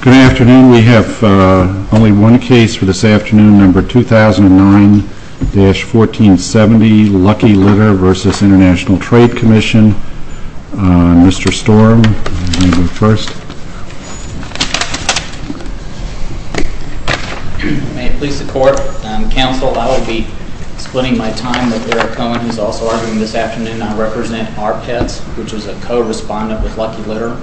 Good afternoon, we have only one case for this afternoon, number 2009-1470, Lucky Litter v. International Trade Commission. Mr. Storm, you may go first. May it please the court, counsel, I will be splitting my time with Eric Cohen, who is a co-respondent with Lucky Litter,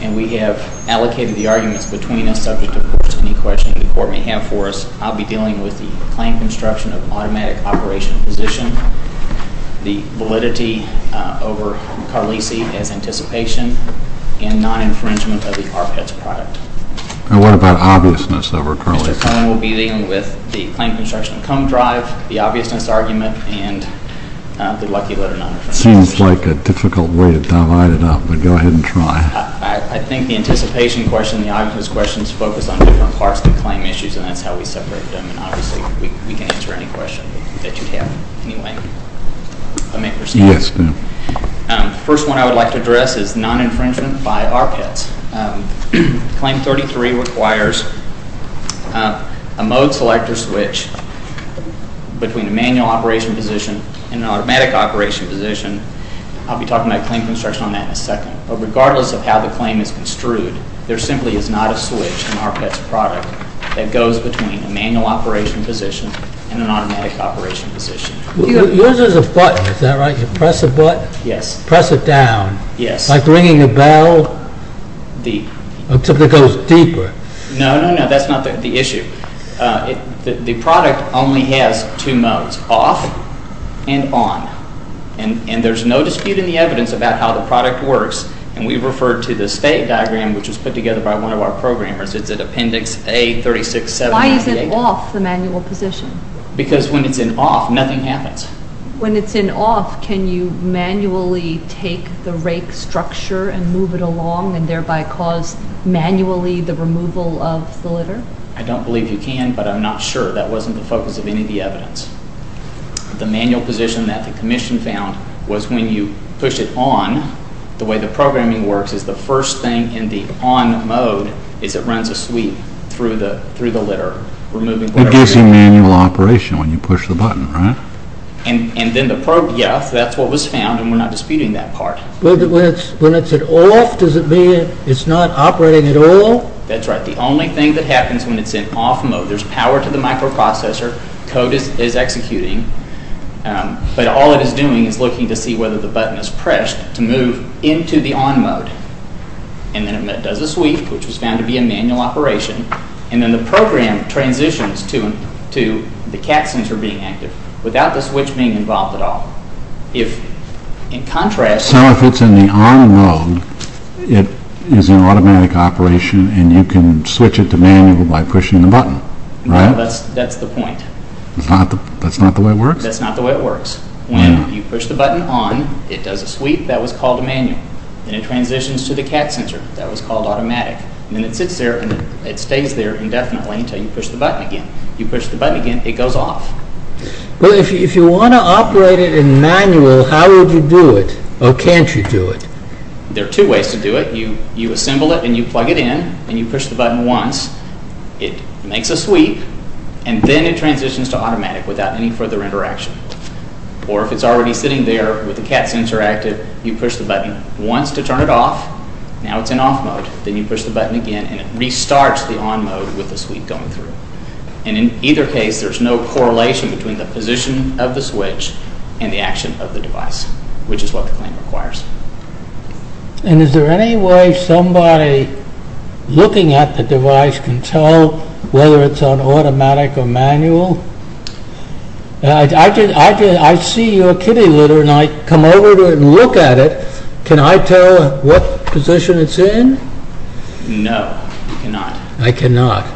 and we have allocated the arguments between us subject to courts. Any questions the court may have for us, I'll be dealing with the claim construction of automatic operation position, the validity over Carlisi as anticipation, and non-infringement of the ARPETS product. And what about obviousness over Carlisi? Mr. Cohen will be dealing with the claim construction of comb drive, the obviousness argument, and the Lucky Litter non-infringement. That seems like a difficult way to divide it up, but go ahead and try. I think the anticipation question and the obviousness questions focus on different parts of the claim issues, and that's how we separate them, and obviously we can answer any question that you have. Anyway, if I may proceed. Yes. The first one I would like to address is non-infringement by ARPETS. Claim 33 requires a mode selector switch between a manual operation position and an automatic operation position. I'll be talking about claim construction on that in a second. But regardless of how the claim is construed, there simply is not a switch in ARPETS product that goes between a manual operation position and an automatic operation position. Yours is a button, is that right? You press a button? Yes. Press it down. Yes. Like ringing a bell? The... Until it goes deeper. No, no, no, that's not the issue. The product only has two modes, off and on. And there's no dispute in the evidence about how the product works, and we refer to the state diagram, which was put together by one of our programmers. It's at appendix A-36-7-98. Why is it off the manual position? Because when it's in off, nothing happens. When it's in off, can you manually take the rake structure and move it along and thereby cause manually the removal of the litter? I don't believe you can, but I'm not sure. That wasn't the focus of any of the evidence. The manual position that the commission found was when you push it on, the way the programming works is the first thing in the on mode is it runs a sweep through the litter, removing whatever... It gives you manual operation when you push the button, right? And then the probe, yes, that's what was found, and we're not disputing that part. When it's at off, does it mean it's not operating at all? That's right. The only thing that happens when it's in off mode, there's power to the microprocessor, code is executing, but all it is doing is looking to see whether the button is pressed to move into the on mode. And then it does a sweep, which was found to be a manual operation, and then the program transitions to the cat sensor being active without the switch being involved at all. In contrast... So if it's in the on mode, it is an automatic operation, and you can switch it to manual by pushing the button, right? No, that's the point. That's not the way it works? That's not the way it works. When you push the button on, it does a sweep, that was called a manual. Then it transitions to the cat sensor, that was called automatic. Then it sits there and it stays there indefinitely until you push the button again. You push the button again, it goes off. Well, if you want to operate it in manual, how would you do it? Or can't you do it? There are two ways to do it. You assemble it and you plug it in, and you push the button once, it makes a sweep, and then it transitions to automatic without any further interaction. Or if it's already sitting there with the cat sensor active, you push the button once to turn it off, now it's in off mode, then you push the button again and it restarts the on mode with the sweep going through. And in either case, there's no correlation between the position of the switch and the action of the device, which is what the claim requires. And is there any way somebody looking at the device can tell whether it's on automatic or manual? I see your kitty litter and I come over to it and look at it, can I tell what position it's in? No, you cannot. I cannot.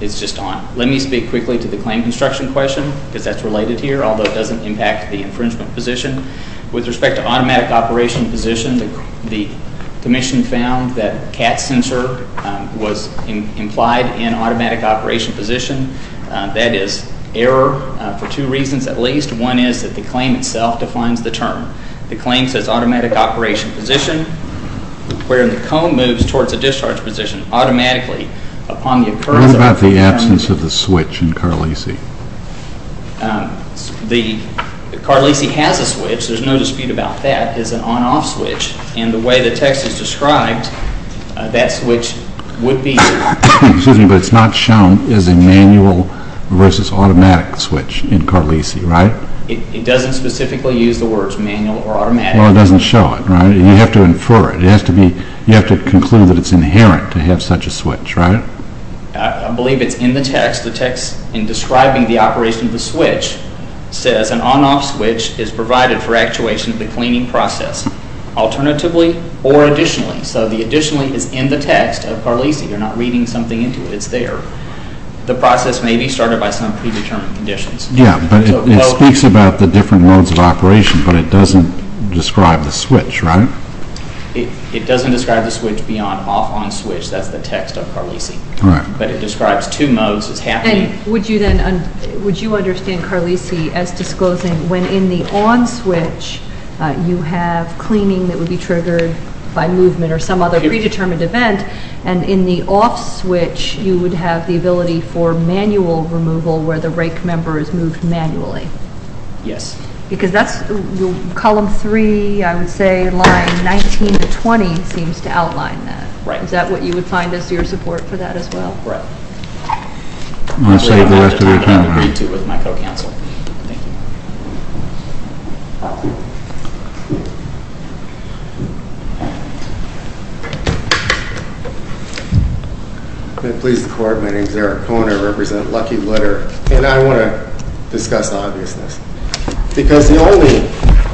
It's just on. Let me speak quickly to the claim construction question, because that's related here, although it doesn't impact the infringement position. With respect to automatic operation position, the commission found that cat sensor was implied in automatic operation position. That is error for two reasons at least. One is that the claim itself defines the term. The claim says automatic operation position, where the cone moves towards the discharge position automatically. What about the absence of the switch in CARLISI? CARLISI has a switch, there's no dispute about that, it's an on-off switch, and the way the text is described, that switch would be... Excuse me, but it's not shown as a manual versus automatic switch in CARLISI, right? It doesn't specifically use the words manual or automatic. Well, it doesn't show it, right? You have to infer it. You have to conclude that it's inherent to have such a switch, right? I believe it's in the text. The text in describing the operation of the switch says an on-off switch is provided for actuation of the cleaning process, alternatively or additionally. So the additionally is in the text of CARLISI, you're not reading something into it, it's there. The process may be started by some predetermined conditions. Yeah, but it speaks about the different modes of operation, but it doesn't describe the switch, right? It doesn't describe the switch beyond off-on switch, that's the text of CARLISI. All right. But it describes two modes, it's happening... And would you then, would you understand CARLISI as disclosing when in the on switch you have cleaning that would be triggered by movement or some other predetermined event, and in the off switch you would have the ability for manual removal where the rake member is moved manually? Yes. Because that's, column three, I would say line 19 to 20 seems to outline that. Right. Is that what you would find as your support for that as well? Right. I'll save the rest of your time, right? I can't agree to with my co-counsel. Thank you. May it please the Court, my name is Eric Kohner, I represent Lucky Litter, and I want to discuss obviousness. Because the only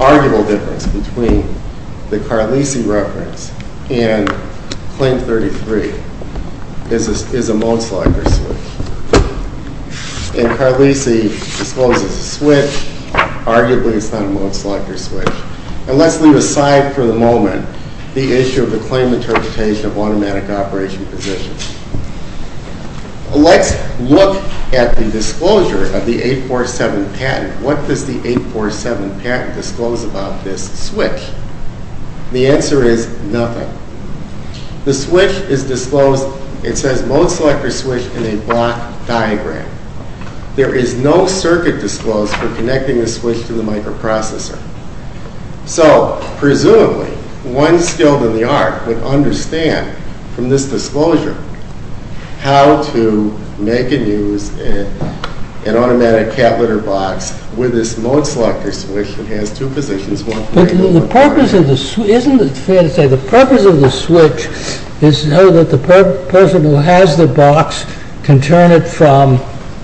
arguable difference between the CARLISI reference and Claim 33 is a mode selector switch. And CARLISI discloses a switch, arguably it's not a mode selector switch. And let's leave aside for the moment the issue of the claim interpretation of automatic operation positions. Let's look at the disclosure of the 847 patent. What does the 847 patent disclose about this switch? The answer is nothing. The switch is disclosed, it says mode selector switch in a block diagram. There is no circuit disclosed for connecting the switch to the microprocessor. So, presumably, one skilled in the art would understand from this disclosure how to make and use an automatic cat litter box with this mode selector switch that has two positions. But the purpose of the switch, isn't it fair to say the purpose of the switch is so that the person who has the box can turn it from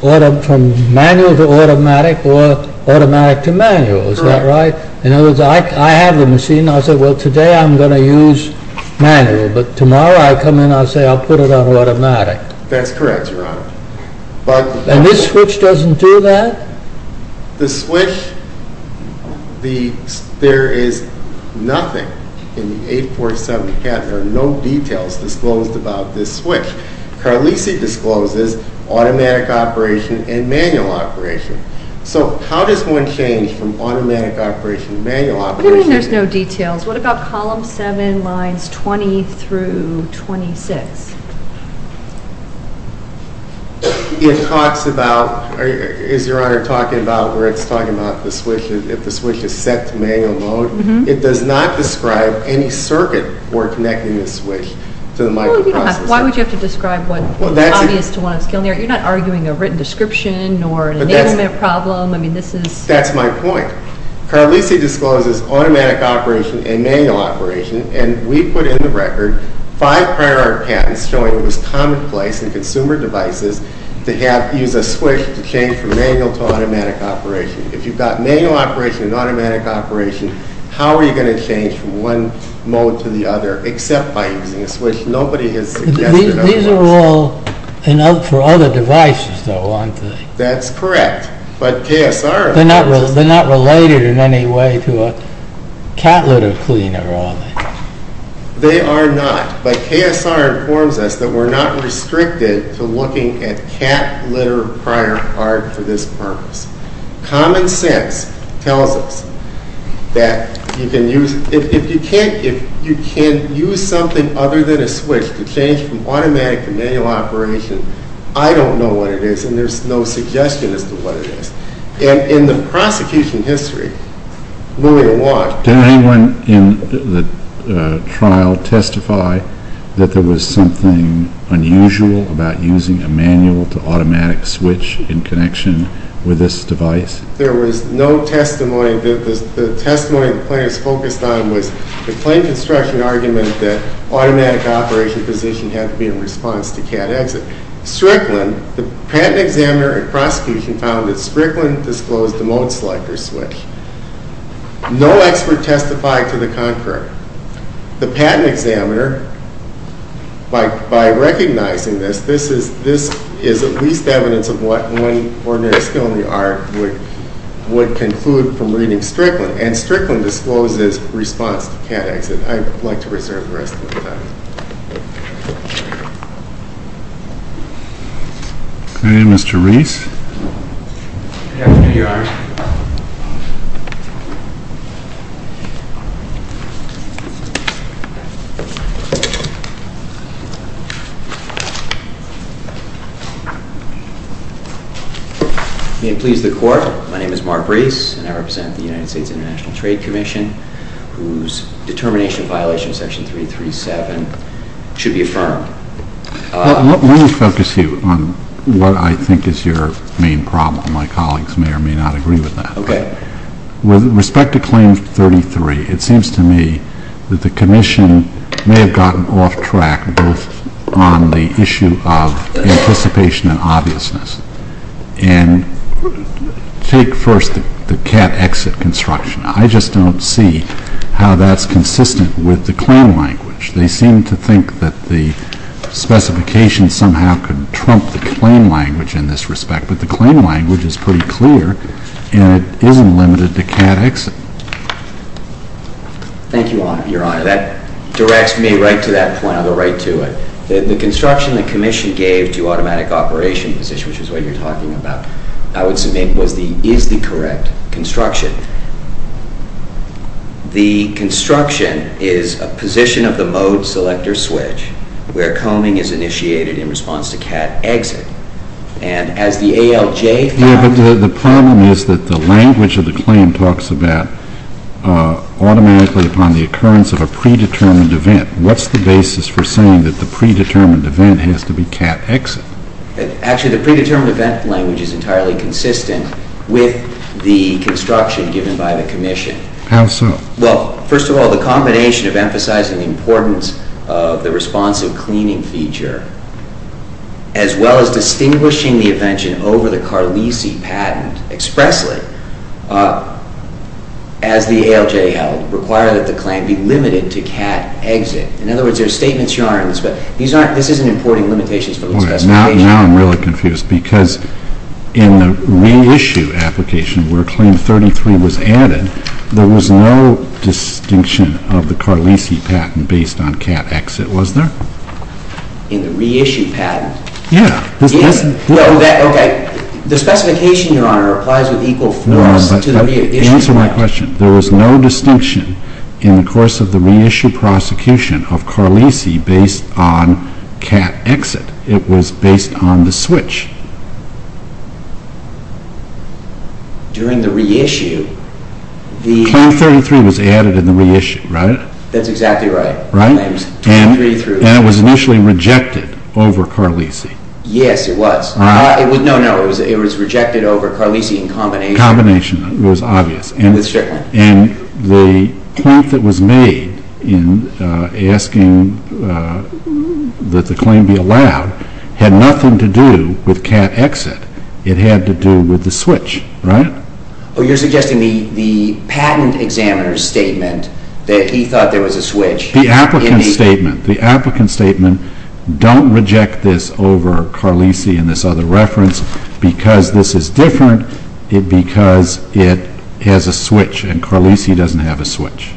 manual to automatic or automatic to manual, is that right? In other words, I have the machine and I say, well, today I'm going to use manual, but tomorrow I come in and I say I'll put it on automatic. That's correct, Your Honor. And this switch doesn't do that? The switch, there is nothing in the 847 patent, there are no details disclosed about this switch. CARLISI discloses automatic operation and manual operation. So, how does one change from automatic operation to manual operation? What do you mean there's no details? What about column 7, lines 20 through 26? It talks about, is Your Honor talking about where it's talking about the switch, if the switch is set to manual mode? It does not describe any circuit for connecting the switch to the microprocessor. Well, you don't have to. Why would you have to describe what is obvious to one of the skilled in the art? You're not arguing a written description or an enablement problem. That's my point. CARLISI discloses automatic operation and manual operation, and we put in the record five prior art patents showing it was commonplace in consumer devices to use a switch to change from manual to automatic operation. If you've got manual operation and automatic operation, how are you going to change from one mode to the other except by using a switch? Nobody has suggested otherwise. These are all for other devices, though, aren't they? That's correct, but KSR informs us... They're not related in any way to a cat litter cleaner, are they? They are not, but KSR informs us that we're not restricted to looking at cat litter prior art for this purpose. Common sense tells us that you can use... I don't know what it is, and there's no suggestion as to what it is. In the prosecution history, moving along... Did anyone in the trial testify that there was something unusual about using a manual to automatic switch in connection with this device? There was no testimony. The testimony the plaintiff's focused on was the plain construction argument that the automatic operation position had to be in response to cat exit. Strickland, the patent examiner and prosecution, found that Strickland disclosed the mode selector switch. No expert testified to the contrary. The patent examiner, by recognizing this, this is at least evidence of what one ordinary skill in the art would conclude from reading Strickland, and Strickland discloses response to cat exit. I'd like to reserve the rest of the time. Okay, Mr. Reese. Good afternoon, Your Honor. May it please the Court, my name is Mark Reese, and I represent the United States International Trade Commission, whose determination of violation of Section 337 should be affirmed. Let me focus you on what I think is your main problem. My colleagues may or may not agree with that. Okay. With respect to Claim 33, it seems to me that the Commission may have gotten off track both on the issue of anticipation and obviousness. And take first the cat exit construction. I just don't see how that's consistent with the claim language. They seem to think that the specification somehow could trump the claim language in this respect. But the claim language is pretty clear, and it isn't limited to cat exit. Thank you, Your Honor. That directs me right to that point. I'll go right to it. The construction the Commission gave to automatic operation position, which is what you're talking about, I would submit is the correct construction. The construction is a position of the mode selector switch where combing is initiated in response to cat exit. And as the ALJ found... Yeah, but the problem is that the language of the claim talks about automatically upon the occurrence of a predetermined event. What's the basis for saying that the predetermined event has to be cat exit? Actually, the predetermined event language is entirely consistent with the construction given by the Commission. How so? Well, first of all, the combination of emphasizing the importance of the responsive cleaning feature as well as distinguishing the event over the Carlisi patent expressly as the ALJ held, require that the claim be limited to cat exit. In other words, there are statements you aren't... This isn't importing limitations for those specifications. Now I'm really confused. Because in the reissue application, where claim 33 was added, there was no distinction of the Carlisi patent based on cat exit, was there? In the reissue patent? Yeah. Okay, the specification, Your Honor, applies with equal force to the reissue patent. Answer my question. There was no distinction in the course of the reissue prosecution of Carlisi based on cat exit. It was based on the switch. During the reissue, the... Claim 33 was added in the reissue, right? That's exactly right. Right? And it was initially rejected over Carlisi. Yes, it was. No, no, it was rejected over Carlisi in combination. Combination, it was obvious. And the point that was made in asking that the claim be allowed had nothing to do with cat exit. It had to do with the switch, right? Oh, you're suggesting the patent examiner's statement that he thought there was a switch. The applicant's statement. The applicant's statement, don't reject this over Carlisi and this other reference because this is different, because it has a switch, and Carlisi doesn't have a switch.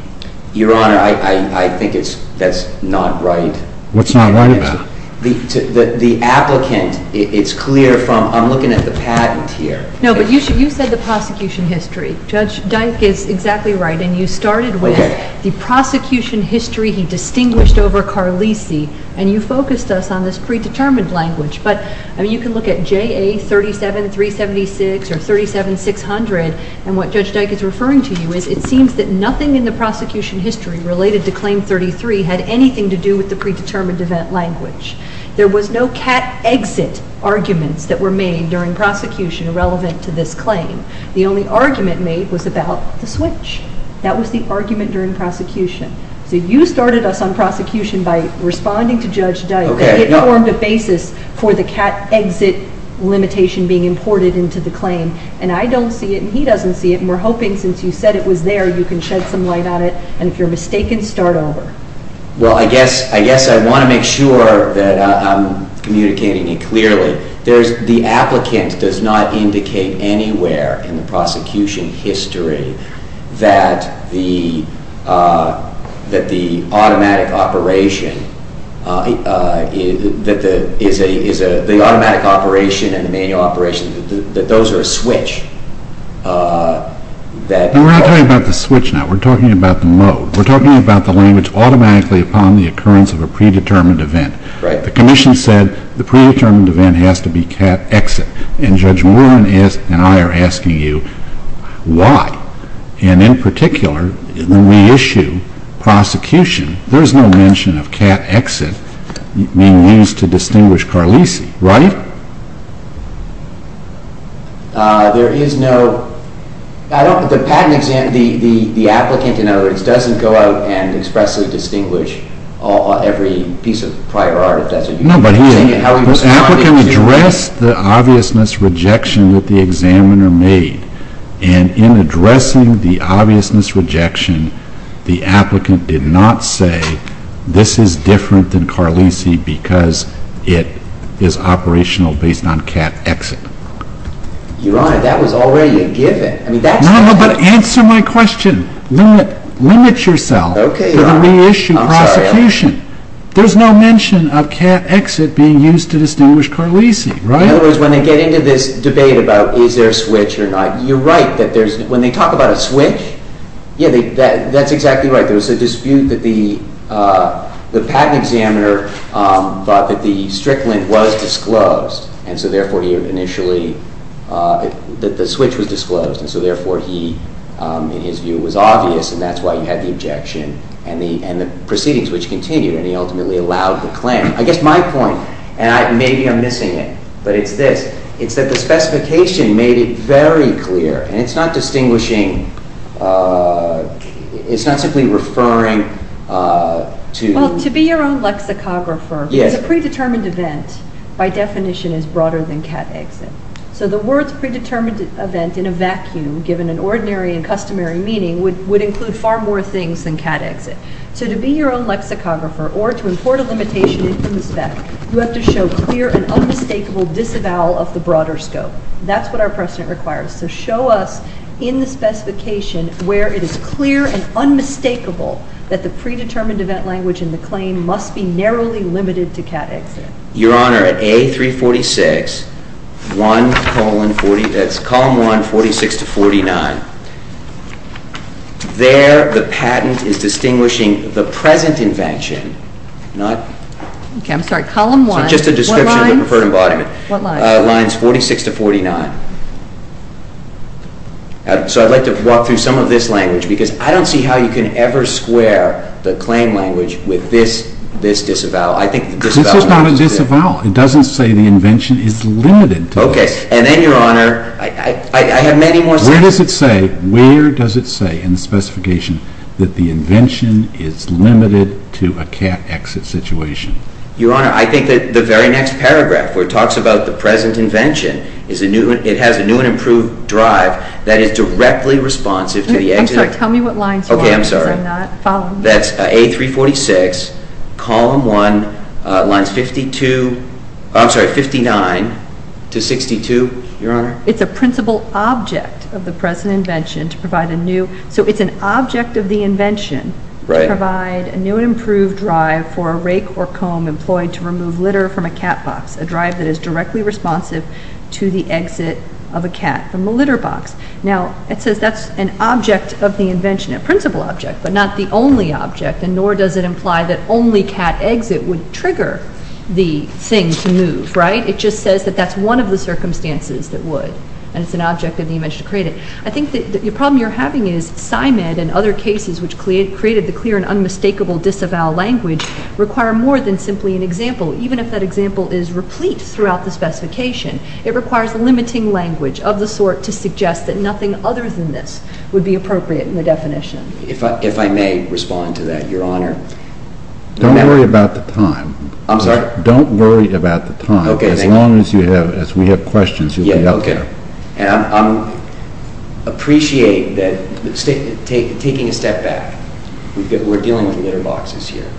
Your Honor, I think that's not right. What's not right about it? The applicant, it's clear from... I'm looking at the patent here. No, but you said the prosecution history. Judge Dyke is exactly right, and you started with the prosecution history he distinguished over Carlisi, and you focused us on this predetermined language, but you can look at JA 37376 or 37600, and what Judge Dyke is referring to you is it seems that nothing in the prosecution history related to Claim 33 had anything to do with the predetermined event language. There was no cat exit arguments that were made during prosecution relevant to this claim. The only argument made was about the switch. That was the argument during prosecution. So you started us on prosecution by responding to Judge Dyke. It formed a basis for the cat exit limitation being imported into the claim, and I don't see it, and he doesn't see it, and we're hoping since you said it was there, you can shed some light on it, and if you're mistaken, start over. Well, I guess I want to make sure that I'm communicating it clearly. The applicant does not indicate anywhere in the prosecution history that the automatic operation that the automatic operation and the manual operation, that those are a switch. We're not talking about the switch now. We're talking about the mode. We're talking about the language automatically upon the occurrence of a predetermined event. The Commission said the predetermined event has to be cat exit, and Judge Moore and I are asking you why, and in particular, when we issue prosecution, there's no mention of cat exit being used to distinguish Carlisi, right? There is no, I don't, the patent exam, the applicant, in other words, doesn't go out and expressly distinguish every piece of prior art. No, but he, the applicant addressed the obviousness rejection that the examiner made, and in addressing the obviousness rejection, the applicant did not say this is different than Carlisi because it is operational based on cat exit. Your Honor, that was already a given. No, but answer my question. Limit yourself to the reissue prosecution. There's no mention of cat exit being used to distinguish Carlisi, right? In other words, when they get into this debate about is there a switch or not, you're right that there's, when they talk about a switch, yeah, that's exactly right. There was a dispute that the patent examiner thought that the strickland was disclosed, and so therefore he initially, that the switch was disclosed, and so therefore he, in his view, was obvious, and that's why you had the objection, and the proceedings which continued, and he ultimately allowed the claim. I guess my point, and maybe I'm missing it, but it's this. It's that the specification made it very clear, and it's not distinguishing, it's not simply referring to... Yes. A predetermined event, by definition, is broader than cat exit. So the words predetermined event in a vacuum, given an ordinary and customary meaning, would include far more things than cat exit. So to be your own lexicographer, or to import a limitation into the spec, you have to show clear and unmistakable disavowal of the broader scope. That's what our precedent requires. So show us in the specification where it is clear and unmistakable that the predetermined event language in the claim must be narrowly limited to cat exit. Your Honor, at A346, column 1, 46 to 49, there the patent is distinguishing the present invention, not... Okay, I'm sorry. Column 1. Just a description of the preferred embodiment. What line? Lines 46 to 49. So I'd like to walk through some of this language, because I don't see how you can ever square the claim language with this disavowal. I think the disavowal... This is not a disavowal. It doesn't say the invention is limited to this. Okay. And then, Your Honor, I have many more... Where does it say, in the specification, that the invention is limited to a cat exit situation? Your Honor, I think that the very next paragraph, where it talks about the present invention, it has a new and improved drive that is directly responsive to the... Tell me what lines you want, because I'm not following. That's A346, column 1, lines 52... I'm sorry, 59 to 62, Your Honor. It's a principal object of the present invention to provide a new... So it's an object of the invention... Right. ...to provide a new and improved drive for a rake or comb employed to remove litter from a cat box, a drive that is directly responsive to the exit of a cat from a litter box. Now, it says that's an object of the invention, a principal object, but not the only object, and nor does it imply that only cat exit would trigger the thing to move, right? It just says that that's one of the circumstances that would, and it's an object of the invention to create it. I think that the problem you're having is, PsyMed and other cases which created the clear and unmistakable disavow language require more than simply an example, even if that example is replete throughout the specification. It requires limiting language of the sort to suggest that nothing other than this would be appropriate in the definition. If I may respond to that, Your Honor. Don't worry about the time. I'm sorry? Don't worry about the time. Okay, thank you. As long as we have questions, you'll be up there. Yeah, okay. And I appreciate that... Taking a step back, we're dealing with litter boxes here,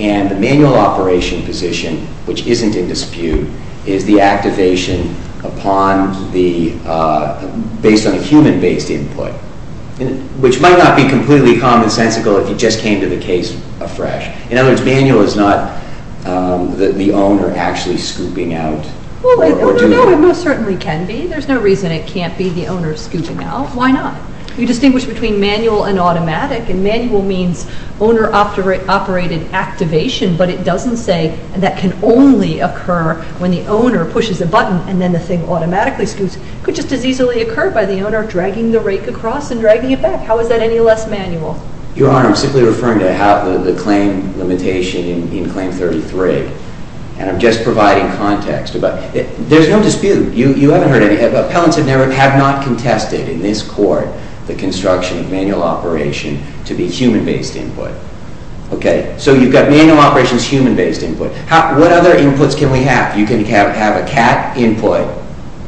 and the manual operation position, which isn't in dispute, is the activation upon the... Which might not be completely commonsensical if you just came to the case afresh. In other words, manual is not the owner actually scooping out... Well, no, it most certainly can be. There's no reason it can't be the owner scooping out. Why not? You distinguish between manual and automatic, and manual means owner-operated activation, but it doesn't say that can only occur when the owner pushes a button and then the thing automatically scoops. It could just as easily occur by the owner dragging the rake across and dragging it back. How is that any less manual? Your Honor, I'm simply referring to the claim limitation in Claim 33, and I'm just providing context about... There's no dispute. You haven't heard any... Appellants have not contested in this court the construction of manual operation to be human-based input. Okay? So you've got manual operations, human-based input. What other inputs can we have? You can have a cat input,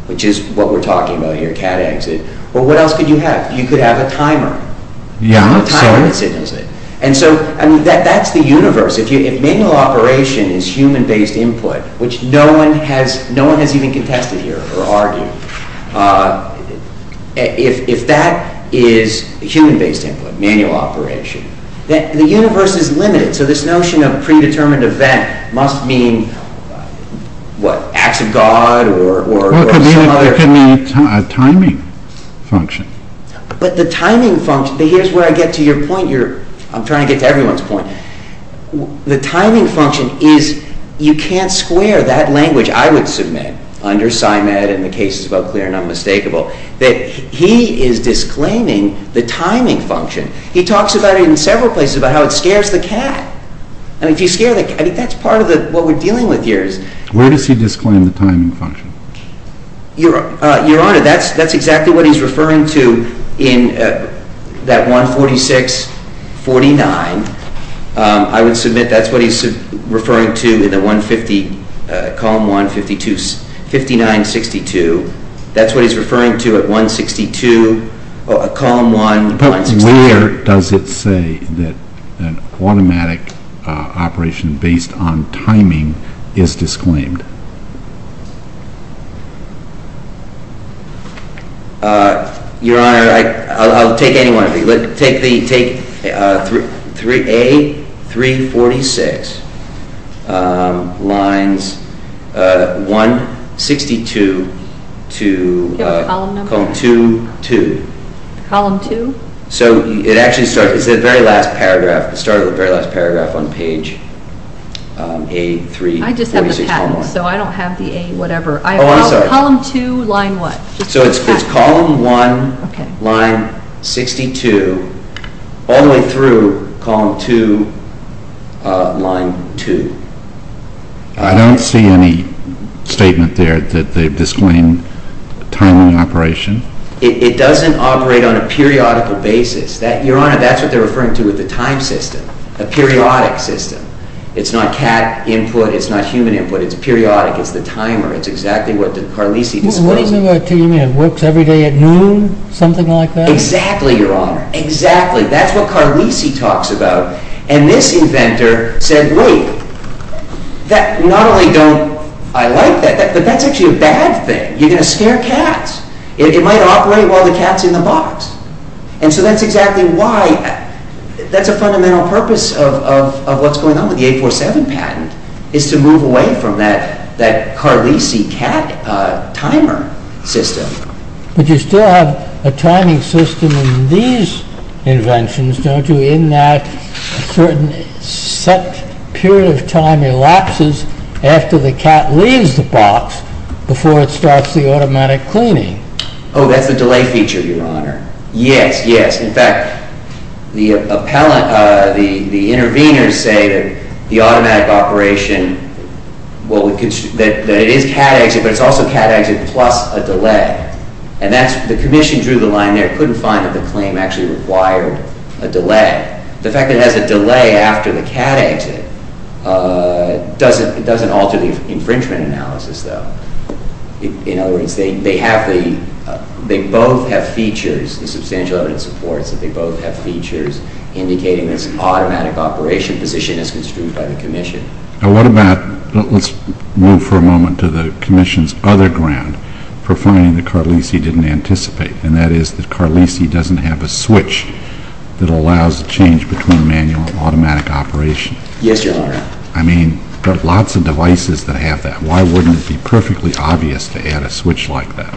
which is what we're talking about here, a cat exit. Well, what else could you have? You could have a timer. Yeah. How time-consuming is it? And so, I mean, that's the universe. If manual operation is human-based input, which no one has even contested here or argued, if that is human-based input, manual operation, then the universe is limited. So this notion of predetermined event must mean, what, acts of God or... What can be a timing function? But the timing function... Here's where I get to your point. I'm trying to get to everyone's point. The timing function is... You can't square that language I would submit under PsyMed, and the case is about clear and unmistakable, that he is disclaiming the timing function. He talks about it in several places, about how it scares the cat. And if you scare the cat... I mean, that's part of what we're dealing with here. Where does he disclaim the timing function? Your Honor, that's exactly what he's referring to in that 146.49. I would submit that's what he's referring to in the 150, column 152, 59.62. That's what he's referring to at 162, column 163. But where does it say that an automatic operation based on timing is disclaimed? Your Honor, I'll take any one of these. Take A346, lines 162 to... Do you have a column number? ...column 22. Column 2? So it actually starts... It's the very last paragraph. It started with the very last paragraph on page A346, column 1. I just have the patent, so I don't have the A whatever. Oh, I'm sorry. Column 2, line what? So it's column 1, line 62, all the way through column 2, line 2. I don't see any statement there that they've disclaimed timing operation. It doesn't operate on a periodical basis. Your Honor, that's what they're referring to with the time system, a periodic system. It's not cat input, it's not human input. It's periodic. It's the timer. It's exactly what Carlisi displays. What do you mean? It works every day at noon? Something like that? Exactly, Your Honor. Exactly. That's what Carlisi talks about. And this inventor said, wait, not only don't I like that, but that's actually a bad thing. You're going to scare cats. It might operate while the cat's in the box. And so that's exactly why... That's a fundamental purpose of what's going on with the 847 patent, is to move away from that Carlisi cat timer system. But you still have a timing system in these inventions, don't you, in that a certain set period of time elapses after the cat leaves the box before it starts the automatic cleaning? Oh, that's the delay feature, Your Honor. Yes, yes. In fact, the interveners say that the automatic operation, that it is cat exit, but it's also cat exit plus a delay. And the commission drew the line there, couldn't find that the claim actually required a delay. The fact that it has a delay after the cat exit doesn't alter the infringement analysis, though. In other words, they both have features, the substantial evidence supports that they both have features indicating this automatic operation position as construed by the commission. Now what about... Let's move for a moment to the commission's other ground for finding that Carlisi didn't anticipate, and that is that Carlisi doesn't have a switch that allows a change between manual and automatic operation. Yes, Your Honor. I mean, there are lots of devices that have that. Why wouldn't it be perfectly obvious to add a switch like that?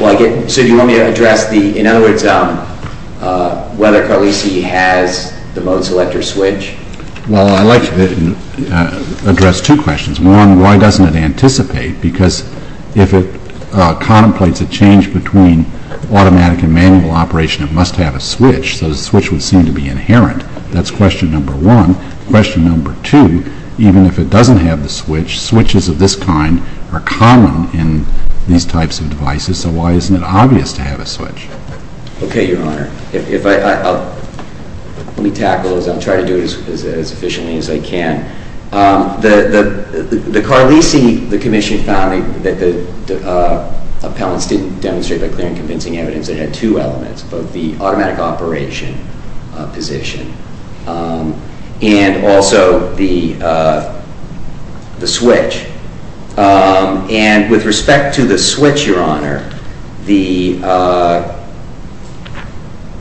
Well, I get... So do you want me to address the... In other words, whether Carlisi has the mode selector switch? Well, I'd like to address two questions. One, why doesn't it anticipate? Because if it contemplates a change between automatic and manual operation, it must have a switch, so the switch would seem to be inherent. That's question number one. Question number two, even if it doesn't have the switch, switches of this kind are common in these types of devices, so why isn't it obvious to have a switch? Okay, Your Honor. If I... Let me tackle this. I'll try to do it as efficiently as I can. The Carlisi, the commission found, that the appellants didn't demonstrate by clear and convincing evidence that it had two elements, both the automatic operation position and also the switch. And with respect to the switch, Your Honor, the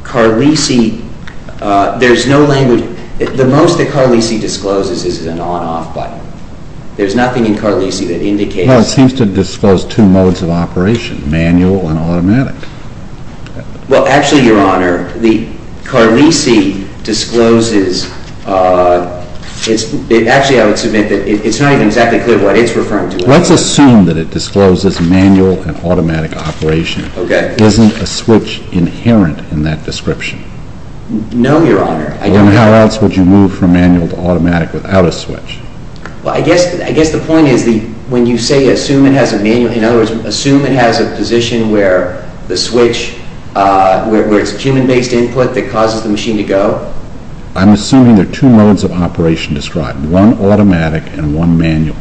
Carlisi... There's no language... The most that Carlisi discloses is an on-off button. There's nothing in Carlisi that indicates... Well, it seems to disclose two modes of operation, manual and automatic. Well, actually, Your Honor, the Carlisi discloses... Actually, I would submit that it's not even exactly clear what it's referring to. Let's assume that it discloses manual and automatic operation. Okay. Isn't a switch inherent in that description? No, Your Honor. Then how else would you move from manual to automatic without a switch? Well, I guess the point is when you say assume it has a manual... In other words, assume it has a position where the switch... where it's a human-based input that causes the machine to go. I'm assuming there are two modes of operation described, one automatic and one manual.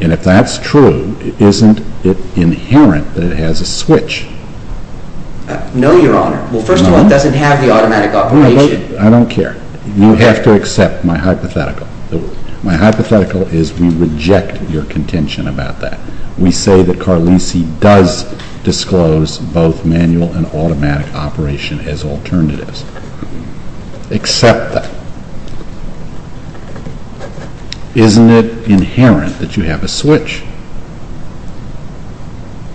And if that's true, isn't it inherent that it has a switch? No, Your Honor. Well, first of all, it doesn't have the automatic operation. I don't care. You have to accept my hypothetical. My hypothetical is we reject your contention about that. We say that Carlisi does disclose both manual and automatic operation as alternatives. Accept that. Isn't it inherent that you have a switch?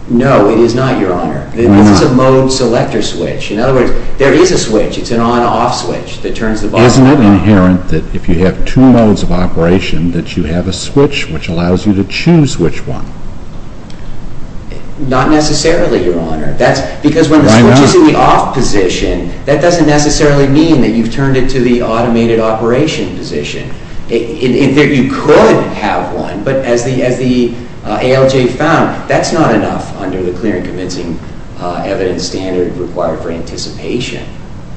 No, it is not, Your Honor. This is a mode selector switch. In other words, there is a switch. It's an on-off switch that turns the button on. Isn't it inherent that if you have two modes of operation that you have a switch which allows you to choose which one? Not necessarily, Your Honor. Why not? Because when the switch is in the off position, that doesn't necessarily mean that you've turned it to the automated operation position. You could have one, but as the ALJ found, that's not enough under the clear and convincing evidence standard required for anticipation.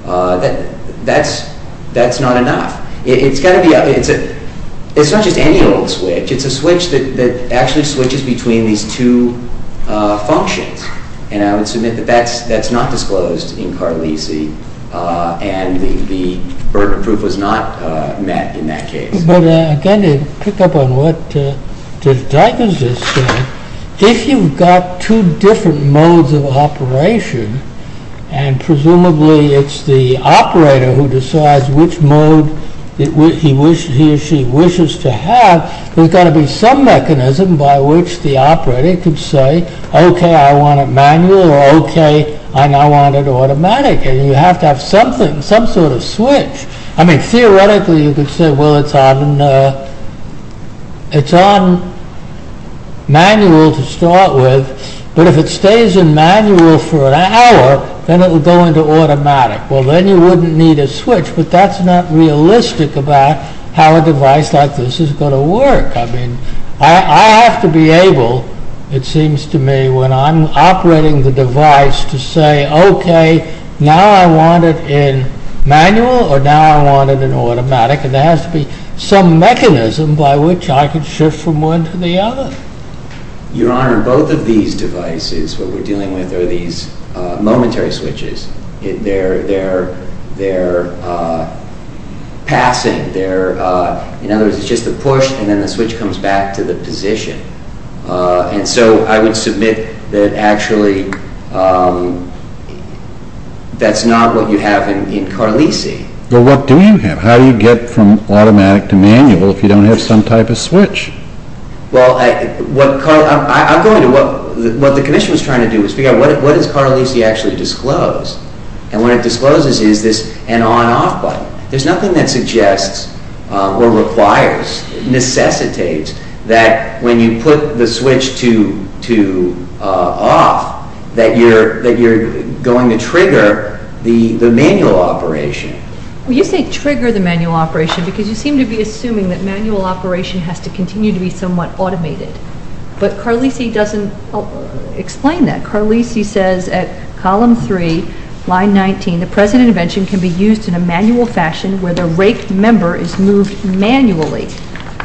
That's not enough. It's not just any old switch. It's a switch that actually switches between these two functions. And I would submit that that's not disclosed in Carlisi and the burden proof was not met in that case. But again, to pick up on what the diagnosis said, if you've got two different modes of operation and presumably it's the operator who decides which mode he or she wishes to have, there's got to be some mechanism by which the operator could say OK, I want it manual or OK, I now want it automatic. And you have to have something, some sort of switch. I mean, theoretically you could say, well, it's on manual to start with, but if it stays in manual for an hour, then it will go into automatic. Well, then you wouldn't need a switch, but that's not realistic about how a device like this is going to work. I mean, I have to be able, it seems to me, when I'm operating the device to say, OK, now I want it in manual or now I want it in automatic, and there has to be some mechanism by which I can shift from one to the other. Your Honor, both of these devices, what we're dealing with, are these momentary switches. They're passing. In other words, it's just a push, and then the switch comes back to the position. And so I would submit that actually that's not what you have in Carlisi. Well, what do you have? if you don't have some type of switch? Well, I'm going to what the commission was trying to do was figure out what does Carlisi actually disclose. And what it discloses is this on-off button. There's nothing that suggests or requires, necessitates, that when you put the switch to off, that you're going to trigger the manual operation. Well, you say trigger the manual operation because you seem to be assuming that manual operation has to continue to be somewhat automated. But Carlisi doesn't explain that. Carlisi says at column 3, line 19, the present intervention can be used in a manual fashion where the rake member is moved manually.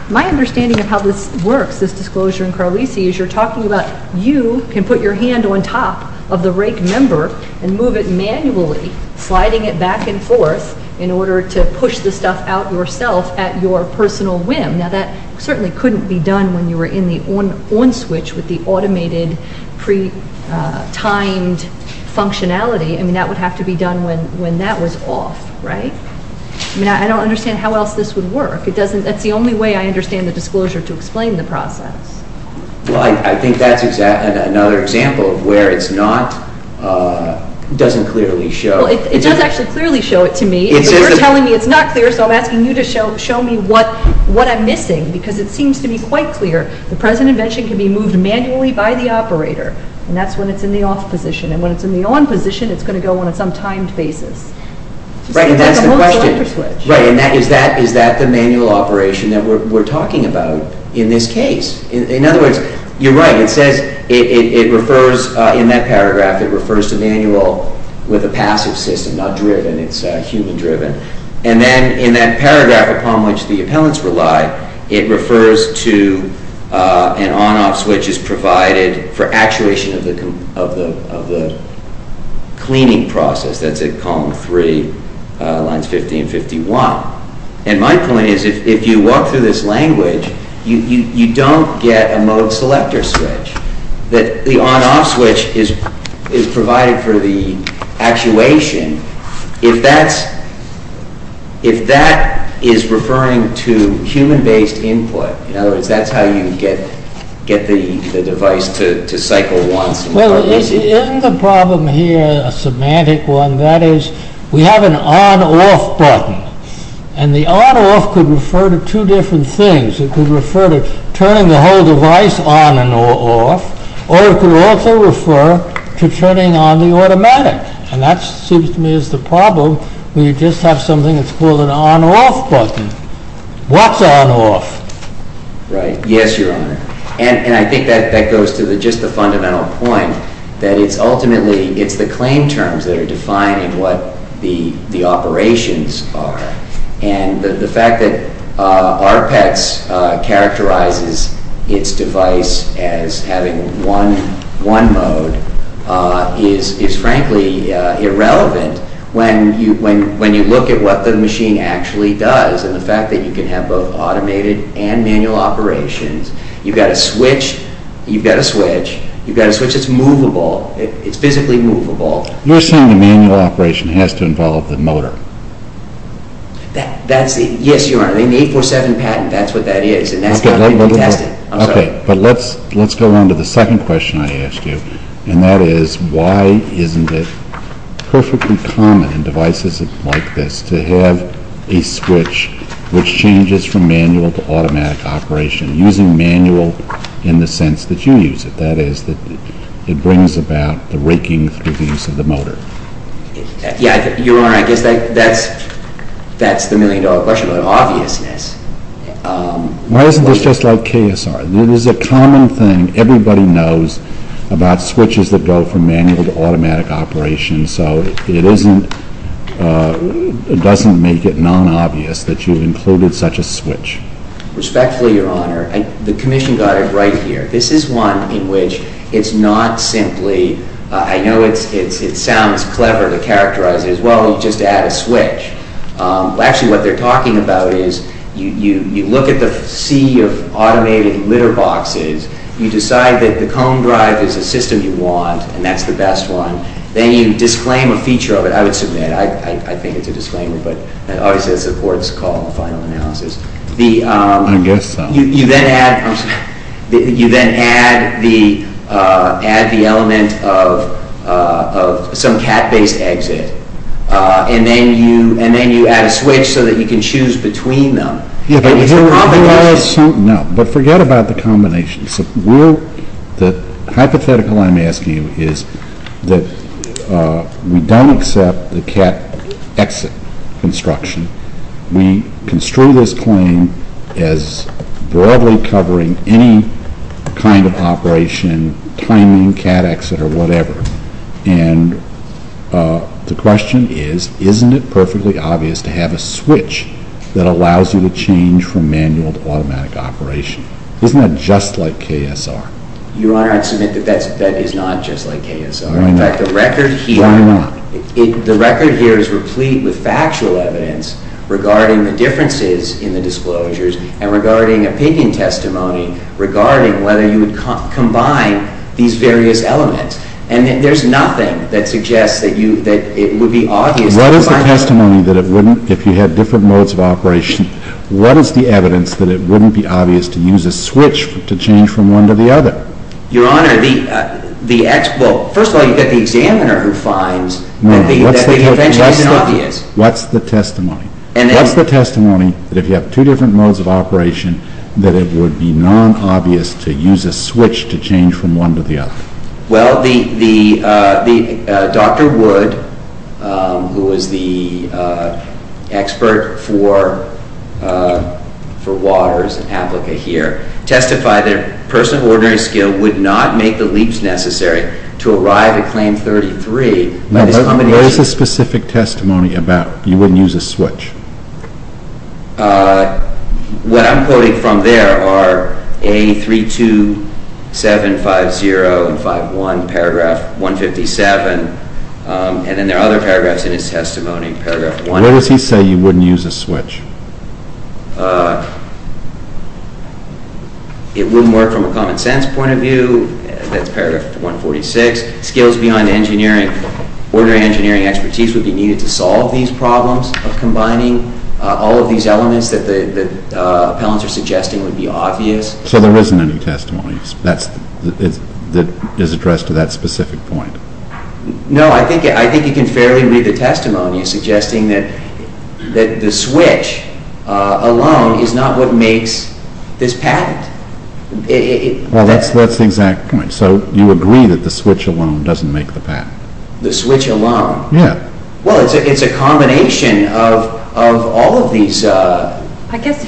My understanding of how this works, this disclosure in Carlisi, is you're talking about you can put your hand on top of the rake member and move it manually, sliding it back and forth in order to push the stuff out yourself at your personal whim. Now, that certainly couldn't be done when you were in the on switch with the automated, pre-timed functionality. I mean, that would have to be done when that was off, right? I mean, I don't understand how else this would work. That's the only way I understand the disclosure to explain the process. Well, I think that's another example of where it doesn't clearly show. Well, it does actually clearly show it to me. You're telling me it's not clear, so I'm asking you to show me what I'm missing because it seems to be quite clear. The present intervention can be moved manually by the operator, and that's when it's in the off position. And when it's in the on position, it's going to go on some timed basis. Right, and that's the question. Right, and is that the manual operation that we're talking about in this case? In other words, you're right. It says it refers in that paragraph. It refers to manual with a passive system, not driven. It's human-driven. And then in that paragraph upon which the appellants rely, it refers to an on-off switch is provided for actuation of the cleaning process. That's at column 3, lines 50 and 51. And my point is if you walk through this language, you don't get a mode selector switch. The on-off switch is provided for the actuation. If that is referring to human-based input, in other words, that's how you get the device to cycle once. Well, isn't the problem here a semantic one? That is, we have an on-off button, and the on-off could refer to two different things. It could refer to turning the whole device on and off, or it could also refer to turning on the automatic. And that seems to me is the problem when you just have something that's called an on-off button. What's on-off? Right. Yes, Your Honor. And I think that goes to just the fundamental point that it's ultimately the claim terms that are defined in what the operations are. And the fact that ARPEX characterizes its device as having one mode is frankly irrelevant when you look at what the machine actually does and the fact that you can have both automated and manual operations. You've got a switch. You've got a switch. You've got a switch that's movable. It's physically movable. You're saying the manual operation has to involve the motor. Yes, Your Honor. In the 847 patent, that's what that is, and that's how it can be tested. I'm sorry. Okay, but let's go on to the second question I asked you, and that is, why isn't it perfectly common in devices like this to have a switch which changes from manual to automatic operation, using manual in the sense that you use it? That is, it brings about the raking through the use of the motor. Yes, Your Honor. I guess that's the million-dollar question about obviousness. Why isn't this just like KSR? It is a common thing. Everybody knows about switches that go from manual to automatic operation, so it doesn't make it non-obvious that you've included such a switch. Respectfully, Your Honor, the Commission got it right here. This is one in which it's not simply, I know it sounds clever to characterize it as, well, you just add a switch. Actually, what they're talking about is you look at the sea of automated litter boxes, you decide that the comb drive is the system you want, and that's the best one, then you disclaim a feature of it. I would submit, I think it's a disclaimer, but obviously it's a court's call, a final analysis. I guess so. You then add the element of some cat-based exit, and then you add a switch so that you can choose between them. It's a combination. No, but forget about the combination. The hypothetical I'm asking you is that we don't accept the cat exit construction. We construe this claim as broadly covering any kind of operation, timing, cat exit, or whatever. And the question is, isn't it perfectly obvious to have a switch that allows you to change from manual to automatic operation? Isn't that just like KSR? Your Honor, I'd submit that that is not just like KSR. Why not? The record here is replete with factual evidence regarding the differences in the disclosures and regarding opinion testimony regarding whether you would combine these various elements. And there's nothing that suggests that it would be obvious to combine them. What is the testimony that it wouldn't, if you had different modes of operation, what is the evidence that it wouldn't be obvious to use a switch to change from one to the other? Your Honor, first of all, you've got the examiner who finds that the evidence isn't obvious. What's the testimony? What's the testimony that if you have two different modes of operation, that it would be non-obvious to use a switch to change from one to the other? Well, Dr. Wood, who is the expert for Waters and APLICA here, testified that a person of ordinary skill would not make the leaps necessary to arrive at Claim 33. What is the specific testimony about, you wouldn't use a switch? What I'm quoting from there are A32750 and 51, paragraph 157, and then there are other paragraphs in his testimony. What does he say you wouldn't use a switch? It wouldn't work from a common sense point of view, that's paragraph 146. Skills beyond ordinary engineering expertise would be needed to solve these problems of combining all of these elements that the appellants are suggesting would be obvious. So there isn't any testimony that is addressed to that specific point? No, I think you can fairly read the testimony suggesting that the switch alone is not what makes this patent. Well, that's the exact point. So you agree that the switch alone doesn't make the patent? The switch alone? Yeah. Well, it's a combination of all of these theories. I guess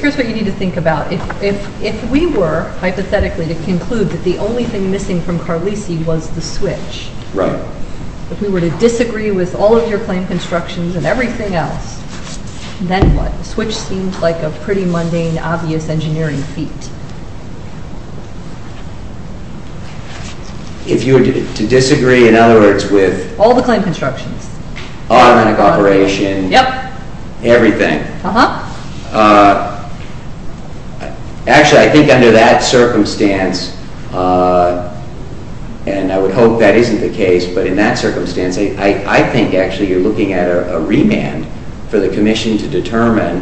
here's what you need to think about. If we were, hypothetically, to conclude that the only thing missing from Carlisi was the switch, if we were to disagree with all of your claim constructions and everything else, then what? The switch seems like a pretty mundane, obvious engineering feat. If you were to disagree, in other words, with... All the claim constructions. Automatic operation. Yep. Everything. Uh-huh. Actually, I think under that circumstance, and I would hope that isn't the case, but in that circumstance, I think actually you're looking at a remand for the commission to determine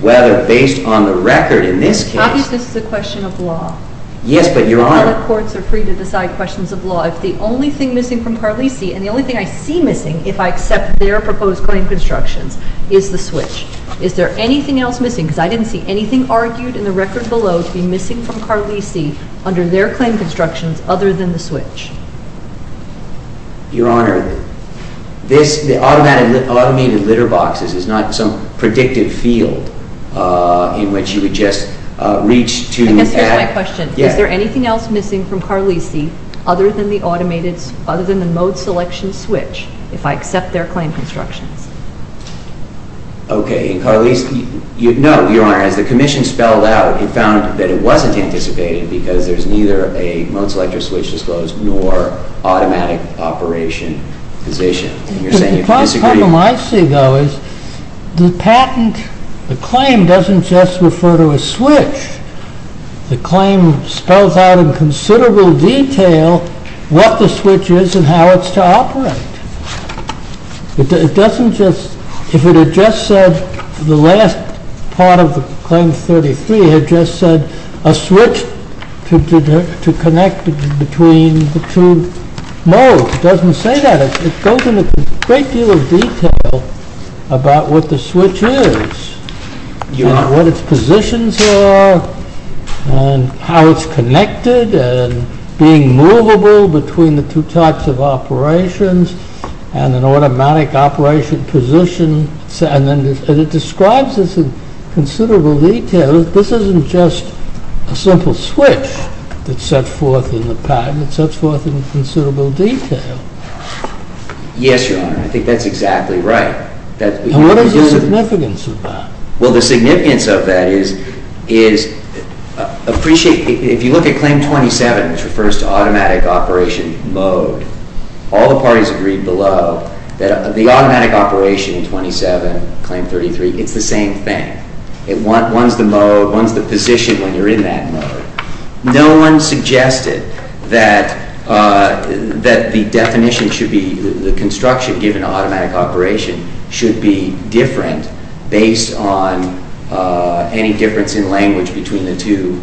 whether, based on the record in this case... Obviously, this is a question of law. Yes, but Your Honor... All the courts are free to decide questions of law. If the only thing missing from Carlisi, and the only thing I see missing, if I accept their proposed claim constructions, is the switch, is there anything else missing? Because I didn't see anything argued in the record below to be missing from Carlisi under their claim constructions other than the switch. Your Honor, the automated litter boxes is not some predictive field in which you would just reach to add... Because here's my question. Is there anything else missing from Carlisi other than the mode selection switch, if I accept their claim constructions? Okay, in Carlisi... No, Your Honor, as the commission spelled out, he found that it wasn't anticipated because there's neither a mode selection switch disclosed nor automatic operation position. The problem I see, though, is the patent, the claim doesn't just refer to a switch. The claim spells out in considerable detail what the switch is and how it's to operate. It doesn't just... If it had just said, the last part of the claim 33, had just said a switch to connect between the two modes, it doesn't say that. It goes into a great deal of detail about what the switch is, and what its positions are, and how it's connected, and being movable between the two types of operations, and an automatic operation position, and it describes this in considerable detail. This isn't just a simple switch that's set forth in the patent, it's set forth in considerable detail. Yes, Your Honor, I think that's exactly right. And what is the significance of that? Well, the significance of that is... If you look at Claim 27, which refers to automatic operation mode, all the parties agreed below that the automatic operation in 27, Claim 33, it's the same thing. One's the mode, one's the position when you're in that mode. No one suggested that the definition should be... any difference in language between the two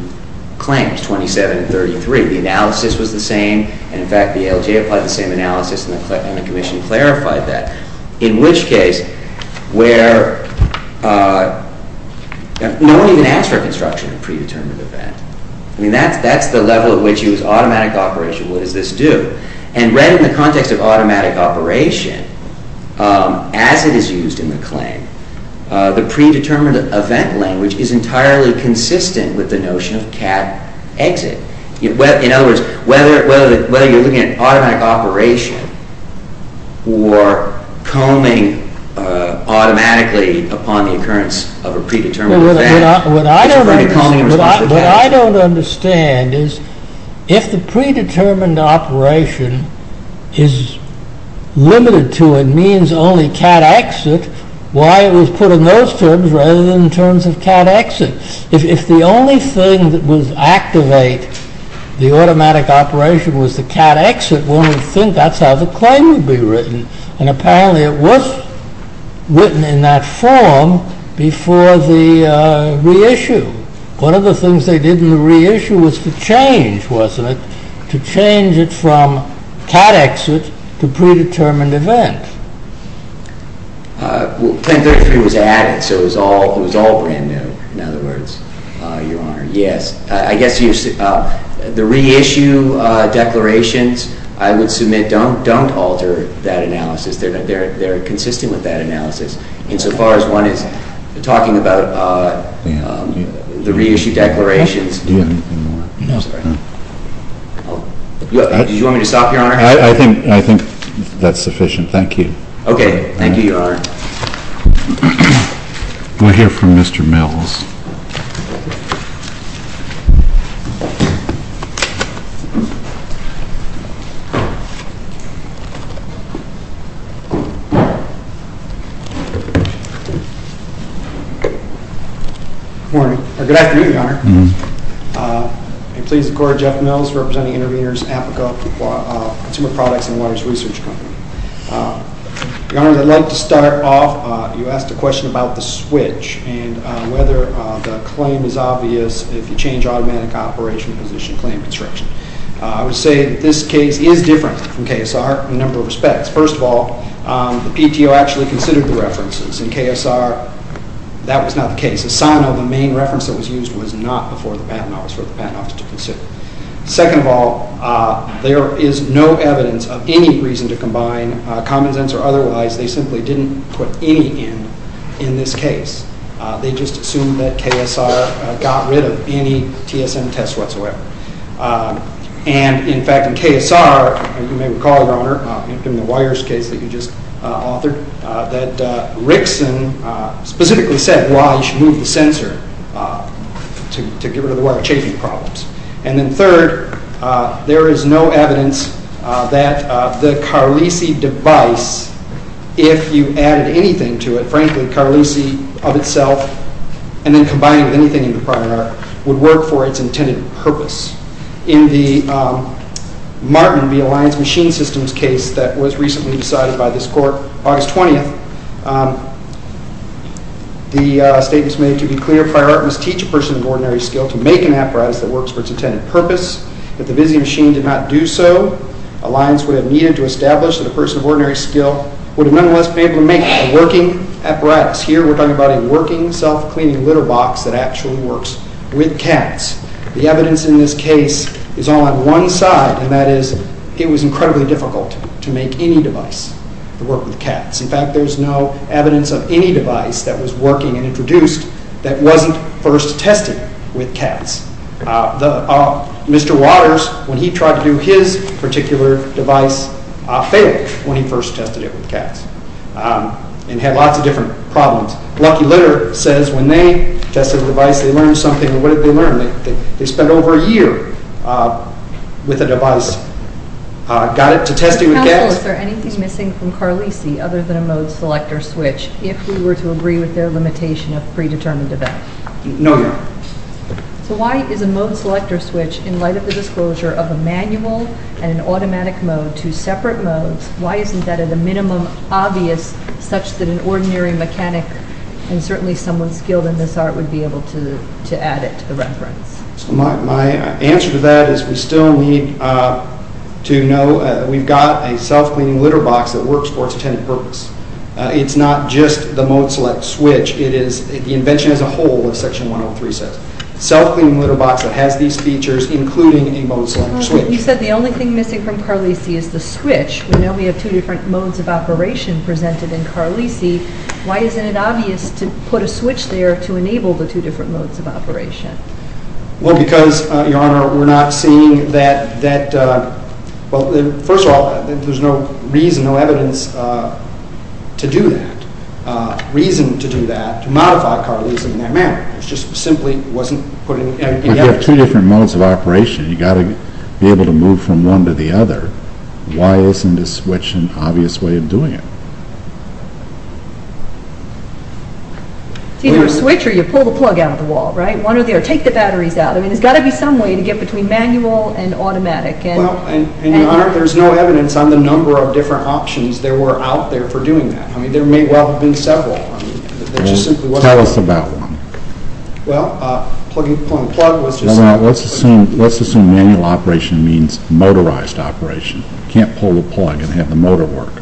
claims, 27 and 33. The analysis was the same, and in fact the ALJ applied the same analysis, and the Commission clarified that. In which case, where... No one even asked for a construction of a predetermined event. I mean, that's the level at which you use automatic operation, what does this do? And read in the context of automatic operation, as it is used in the claim, the predetermined event language is entirely consistent with the notion of CAD exit. In other words, whether you're looking at automatic operation, or combing automatically upon the occurrence of a predetermined event... What I don't understand is, if the predetermined operation is limited to, it means only CAD exit, why it was put in those terms rather than in terms of CAD exit? If the only thing that would activate the automatic operation was the CAD exit, one would think that's how the claim would be written, and apparently it was written in that form before the reissue. One of the things they did in the reissue was to change, wasn't it? To change it from CAD exit to predetermined event. Well, 1033 was added, so it was all brand new. In other words, Your Honor, yes. I guess the reissue declarations, I would submit, don't alter that analysis. They're consistent with that analysis, insofar as one is talking about the reissue declarations. Do you have anything more? No, sorry. Do you want me to stop, Your Honor? I think that's sufficient. Thank you. Okay, thank you, Your Honor. We'll hear from Mr. Mills. Good morning, or good afternoon, Your Honor. May it please the Court, I'm Jeff Mills, representing Intervenors, APICA, Consumer Products, and Waters Research Company. Your Honor, I'd like to start off. You asked a question about the switch and whether the claim is obvious if you change automatic operation position claim construction. I would say that this case is different from KSR in a number of respects. First of all, the PTO actually considered the references. In KSR, that was not the case. The sign of the main reference that was used was not before the Patent Office, for the Patent Office to consider. Second of all, there is no evidence of any reason to combine common sense or otherwise. They simply didn't put any in in this case. They just assumed that KSR got rid of any TSM test whatsoever. And, in fact, in KSR, you may recall, Your Honor, in the wires case that you just authored, that Rickson specifically said why you should move the sensor to get rid of the wire chafing problems. And then third, there is no evidence that the Carlisi device, if you added anything to it, frankly, Carlisi of itself, and then combining with anything in the prior art, would work for its intended purpose. In the Martin v. Alliance Machine Systems case that was recently decided by this Court, August 20th, the statement is made to be clear. Prior art must teach a person of ordinary skill to make an apparatus that works for its intended purpose. If the busy machine did not do so, Alliance would have needed to establish that a person of ordinary skill would have nonetheless been able to make a working apparatus. Here, we're talking about a working self-cleaning litter box that actually works with cats. The evidence in this case is all on one side, and that is it was incredibly difficult to make any device to work with cats. In fact, there's no evidence of any device that was working and introduced that wasn't first tested with cats. Mr. Waters, when he tried to do his particular device, failed when he first tested it with cats, and had lots of different problems. Lucky Litter says when they tested the device, they learned something, and what did they learn? They spent over a year with the device. Got it to testing with cats. Counsel, is there anything missing from Carlisi other than a mode selector switch, if we were to agree with their limitation of predetermined event? No, Your Honor. So why is a mode selector switch, in light of the disclosure of a manual and an automatic mode, two separate modes, why isn't that at a minimum obvious such that an ordinary mechanic and certainly someone skilled in this art would be able to add it to the reference? My answer to that is we still need to know that we've got a self-cleaning litter box that works for its intended purpose. It's not just the mode select switch. It is the invention as a whole of Section 103 says. Self-cleaning litter box that has these features, including a mode selector switch. You said the only thing missing from Carlisi is the switch. We know we have two different modes of operation presented in Carlisi. Why isn't it obvious to put a switch there to enable the two different modes of operation? Well, because, Your Honor, we're not seeing that... Well, first of all, there's no reason, no evidence to do that, reason to do that, to modify Carlisi in that manner. It just simply wasn't put in... If you have two different modes of operation, you've got to be able to move from one to the other. Why isn't a switch an obvious way of doing it? It's either a switch, or you pull the plug out of the wall, right? Take the batteries out. I mean, there's got to be some way to get between manual and automatic. And, Your Honor, there's no evidence on the number of different options that were out there for doing that. I mean, there may well have been several. Tell us about one. Well, pulling the plug was just... Let's assume manual operation means motorized operation. You can't pull the plug and have the motor work.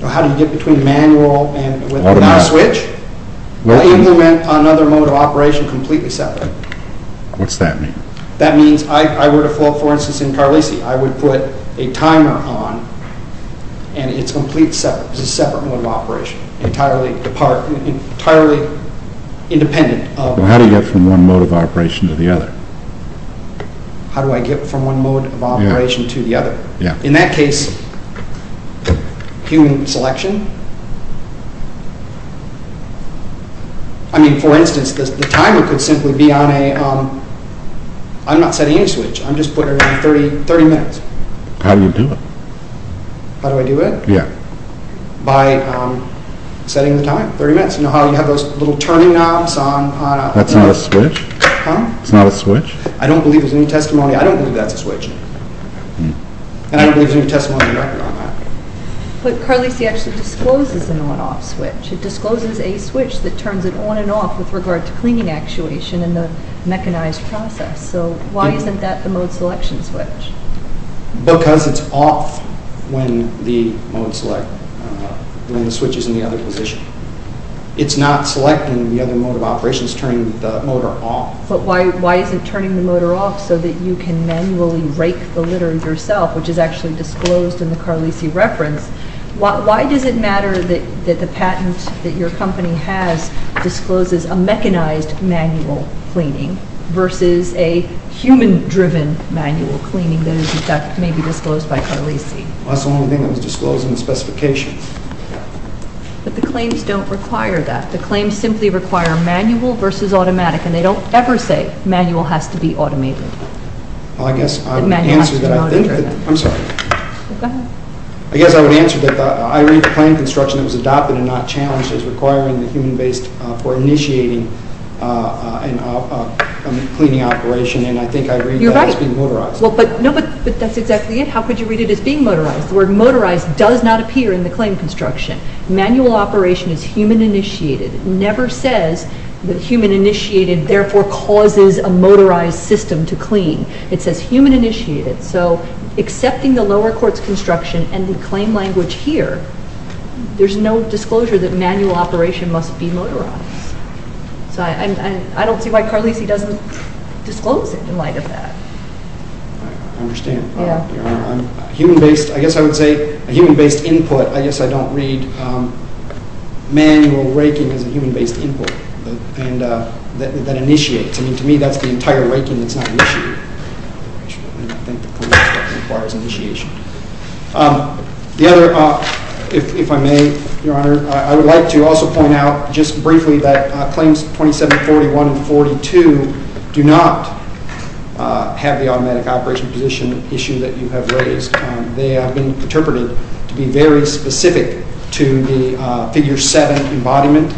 Well, how do you get between manual and... Automatic. ...without a switch? Well, you implement another mode of operation completely separate. What's that mean? That means I were to... For instance, in Carlisi, I would put a timer on, and it's complete separate. It's a separate mode of operation, entirely independent of... Well, how do you get from one mode of operation to the other? How do I get from one mode of operation to the other? In that case, human selection. I mean, for instance, the timer could simply be on a... I'm not setting any switch. I'm just putting it on 30 minutes. How do you do it? How do I do it? Yeah. By setting the time, 30 minutes. You know how you have those little turning knobs on... That's not a switch. Huh? It's not a switch? I don't believe there's any testimony... I don't believe that's a switch. And I don't believe there's any testimony on the record on that. But Carlisi actually discloses an on-off switch. It discloses a switch that turns it on and off with regard to cleaning actuation and the mechanized process. So why isn't that the mode selection switch? Because it's off when the mode select... when the switch is in the other position. It's not selecting the other mode of operations, it's just turning the motor off. But why isn't turning the motor off so that you can manually rake the litter yourself, which is actually disclosed in the Carlisi reference? Why does it matter that the patent that your company has discloses a mechanized manual cleaning versus a human-driven manual cleaning that may be disclosed by Carlisi? Well, that's the only thing that was disclosed in the specifications. But the claims don't require that. The claims simply require manual versus automatic, and they don't ever say manual has to be automated. Well, I guess I would answer that... Manual has to be automated, right? I'm sorry. Go ahead. I guess I would answer that I read the claim construction that was adopted and not challenged as requiring the human-based for initiating a cleaning operation, and I think I read that as being motorized. You're right. No, but that's exactly it. How could you read it as being motorized? The word motorized does not appear in the claim construction. Manual operation is human-initiated. It never says that human-initiated therefore causes a motorized system to clean. It says human-initiated. So accepting the lower court's construction and the claim language here, there's no disclosure that manual operation must be motorized. So I don't see why Carlisi doesn't disclose it in light of that. I understand. Human-based... I guess I would say a human-based input. I guess I don't read manual raking as a human-based input that initiates. I mean, to me, that's the entire raking that's not initiated. I think the court requires initiation. The other, if I may, Your Honor, I would like to also point out just briefly that claims 2741 and 42 do not have the automatic operation position issue that you have raised. They have been interpreted to be very specific to the figure 7 embodiment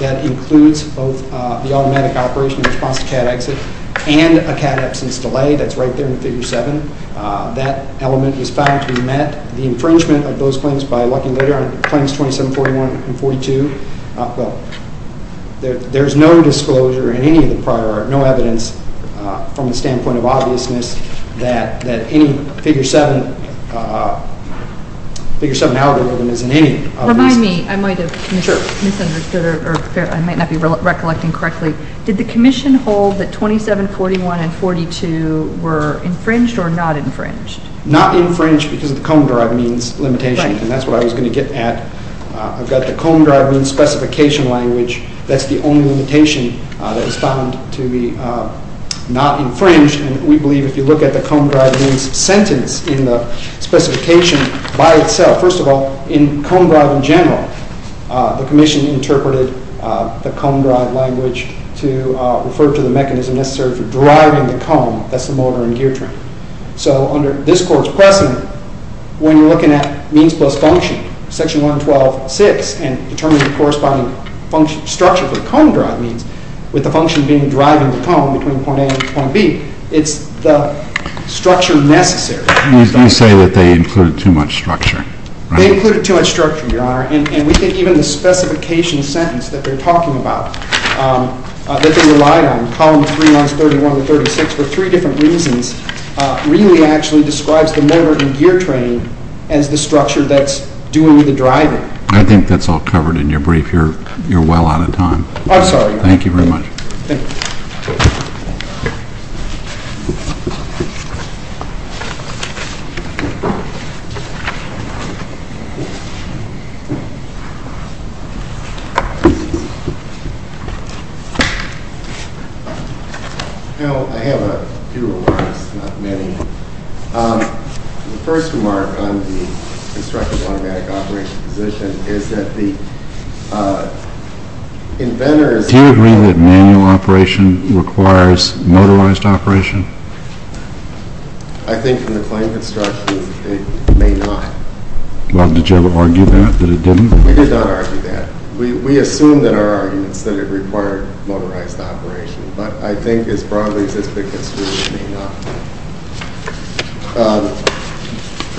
that includes both the automatic operation in response to CAD exit and a CAD absence delay that's right there in figure 7. That element was found to be met. The infringement of those claims by Lucky Leder on claims 2741 and 42, well, there's no disclosure in any of the prior art, no evidence from the standpoint of obviousness that any figure 7 algorithm is in any of these. Remind me, I might have misunderstood or I might not be recollecting correctly. Did the commission hold that 2741 and 42 were infringed or not infringed? Not infringed because of the comb-derived means limitation, and that's what I was going to get at. I've got the comb-derived means specification language. That's the only limitation that was found to be not infringed, and we believe if you look at the comb-derived means sentence in the specification by itself, first of all, in comb-derived in general, the commission interpreted the comb-derived language to refer to the mechanism necessary for deriving the comb, that's the motor and gear train. So under this court's precedent, when you're looking at means plus function, section 112.6, and determining the corresponding structure for the comb-derived means with the function being deriving the comb between point A and point B, it's the structure necessary. You say that they included too much structure. They included too much structure, Your Honor, and we think even the specification sentence that they're talking about, that they relied on, column 3, lines 31 and 36, for three different reasons, really actually describes the motor and gear train as the structure that's doing the deriving. I think that's all covered in your brief. You're well out of time. I'm sorry. Thank you very much. Thank you. I have a few remarks, not many. The first remark on the constructive automatic operation position is that the inventor is... Do you agree that manual operation requires motorized operation? I think from the claim construction, it may not. Well, did you ever argue that, that it didn't? We did not argue that. We assume in our arguments that it required motorized operation, but I think as broadly as it's been construed, it may not.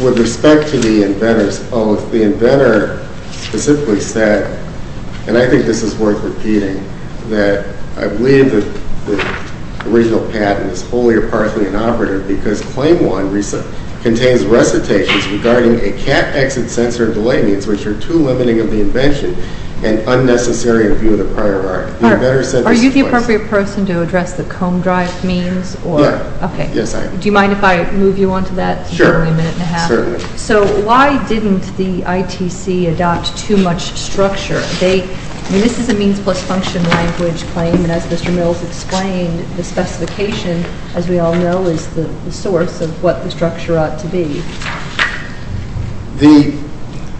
With respect to the inventor's oath, the inventor specifically said, and I think this is worth repeating, that I believe that the original patent is wholly or partly inoperative because Claim 1 contains recitations regarding a cat-exit sensor delay means, which are too limiting of the invention and unnecessary in view of the prior art. Are you the appropriate person to address the comb drive means? Yes, I am. Do you mind if I move you on to that? Sure. So why didn't the ITC adopt too much structure? This is a means plus function language claim, and as Mr. Mills explained, the specification, as we all know, is the source of what the structure ought to be. The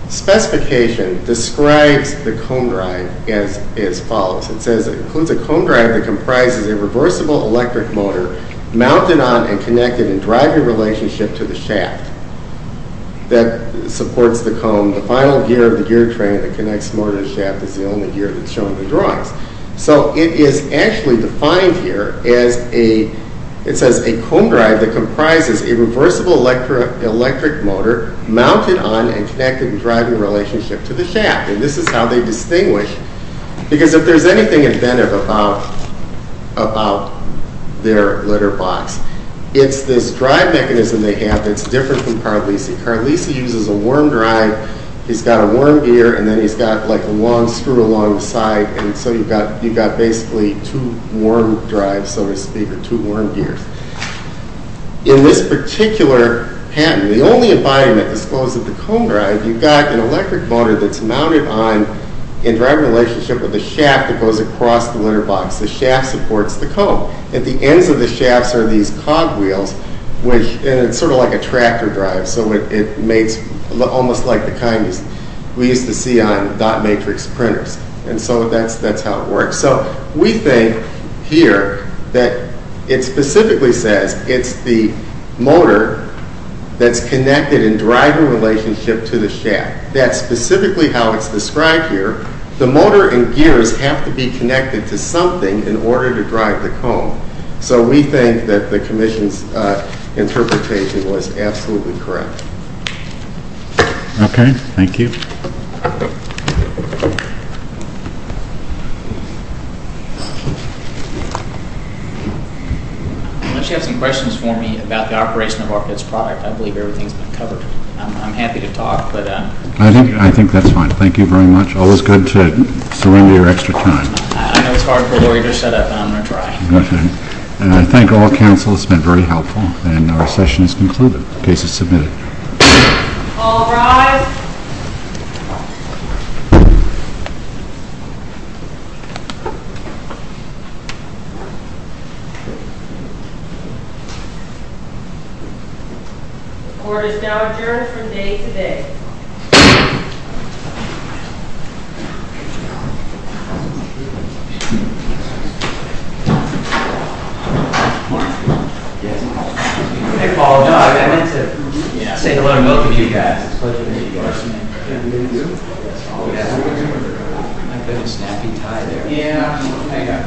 specification describes the comb drive as follows. It says it includes a comb drive that comprises a reversible electric motor mounted on and connected in driver relationship to the shaft that supports the comb. The final gear of the gear train that connects motor and shaft is the only gear that's shown in the drawings. So it is actually defined here as a, it says a comb drive that comprises a reversible electric motor mounted on and connected in driving relationship to the shaft. And this is how they distinguish. Because if there's anything inventive about their litter box, it's this drive mechanism they have that's different from Carlisi. Carlisi uses a worm drive. He's got a worm gear, and then he's got like a long screw along the side, and so you've got basically two worm drives, so to speak, or two worm gears. In this particular pattern, the only embodiment disclosed is the comb drive. You've got an electric motor that's mounted on in driver relationship with the shaft that goes across the litter box. The shaft supports the comb. At the ends of the shafts are these cog wheels, and it's sort of like a tractor drive, so it makes almost like the kind we used to see on dot matrix printers. And so that's how it works. So we think here that it specifically says it's the motor that's connected in driver relationship to the shaft. That's specifically how it's described here. The motor and gears have to be connected to something in order to drive the comb. So we think that the commission's interpretation was absolutely correct. Okay. Thank you. Unless you have some questions for me about the operation of Arquette's product, I believe everything's been covered. I'm happy to talk, but... I think that's fine. Thank you very much. Always good to surrender your extra time. I know it's hard for a lawyer to set up, but I'm going to try. Okay. And I think all counsel has been very helpful, and our session is concluded. Case is submitted. All rise. The court is now adjourned from day to day. Thank you.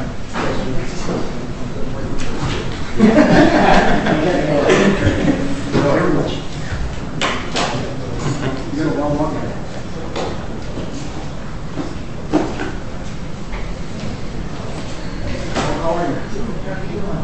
You're welcome. How are you?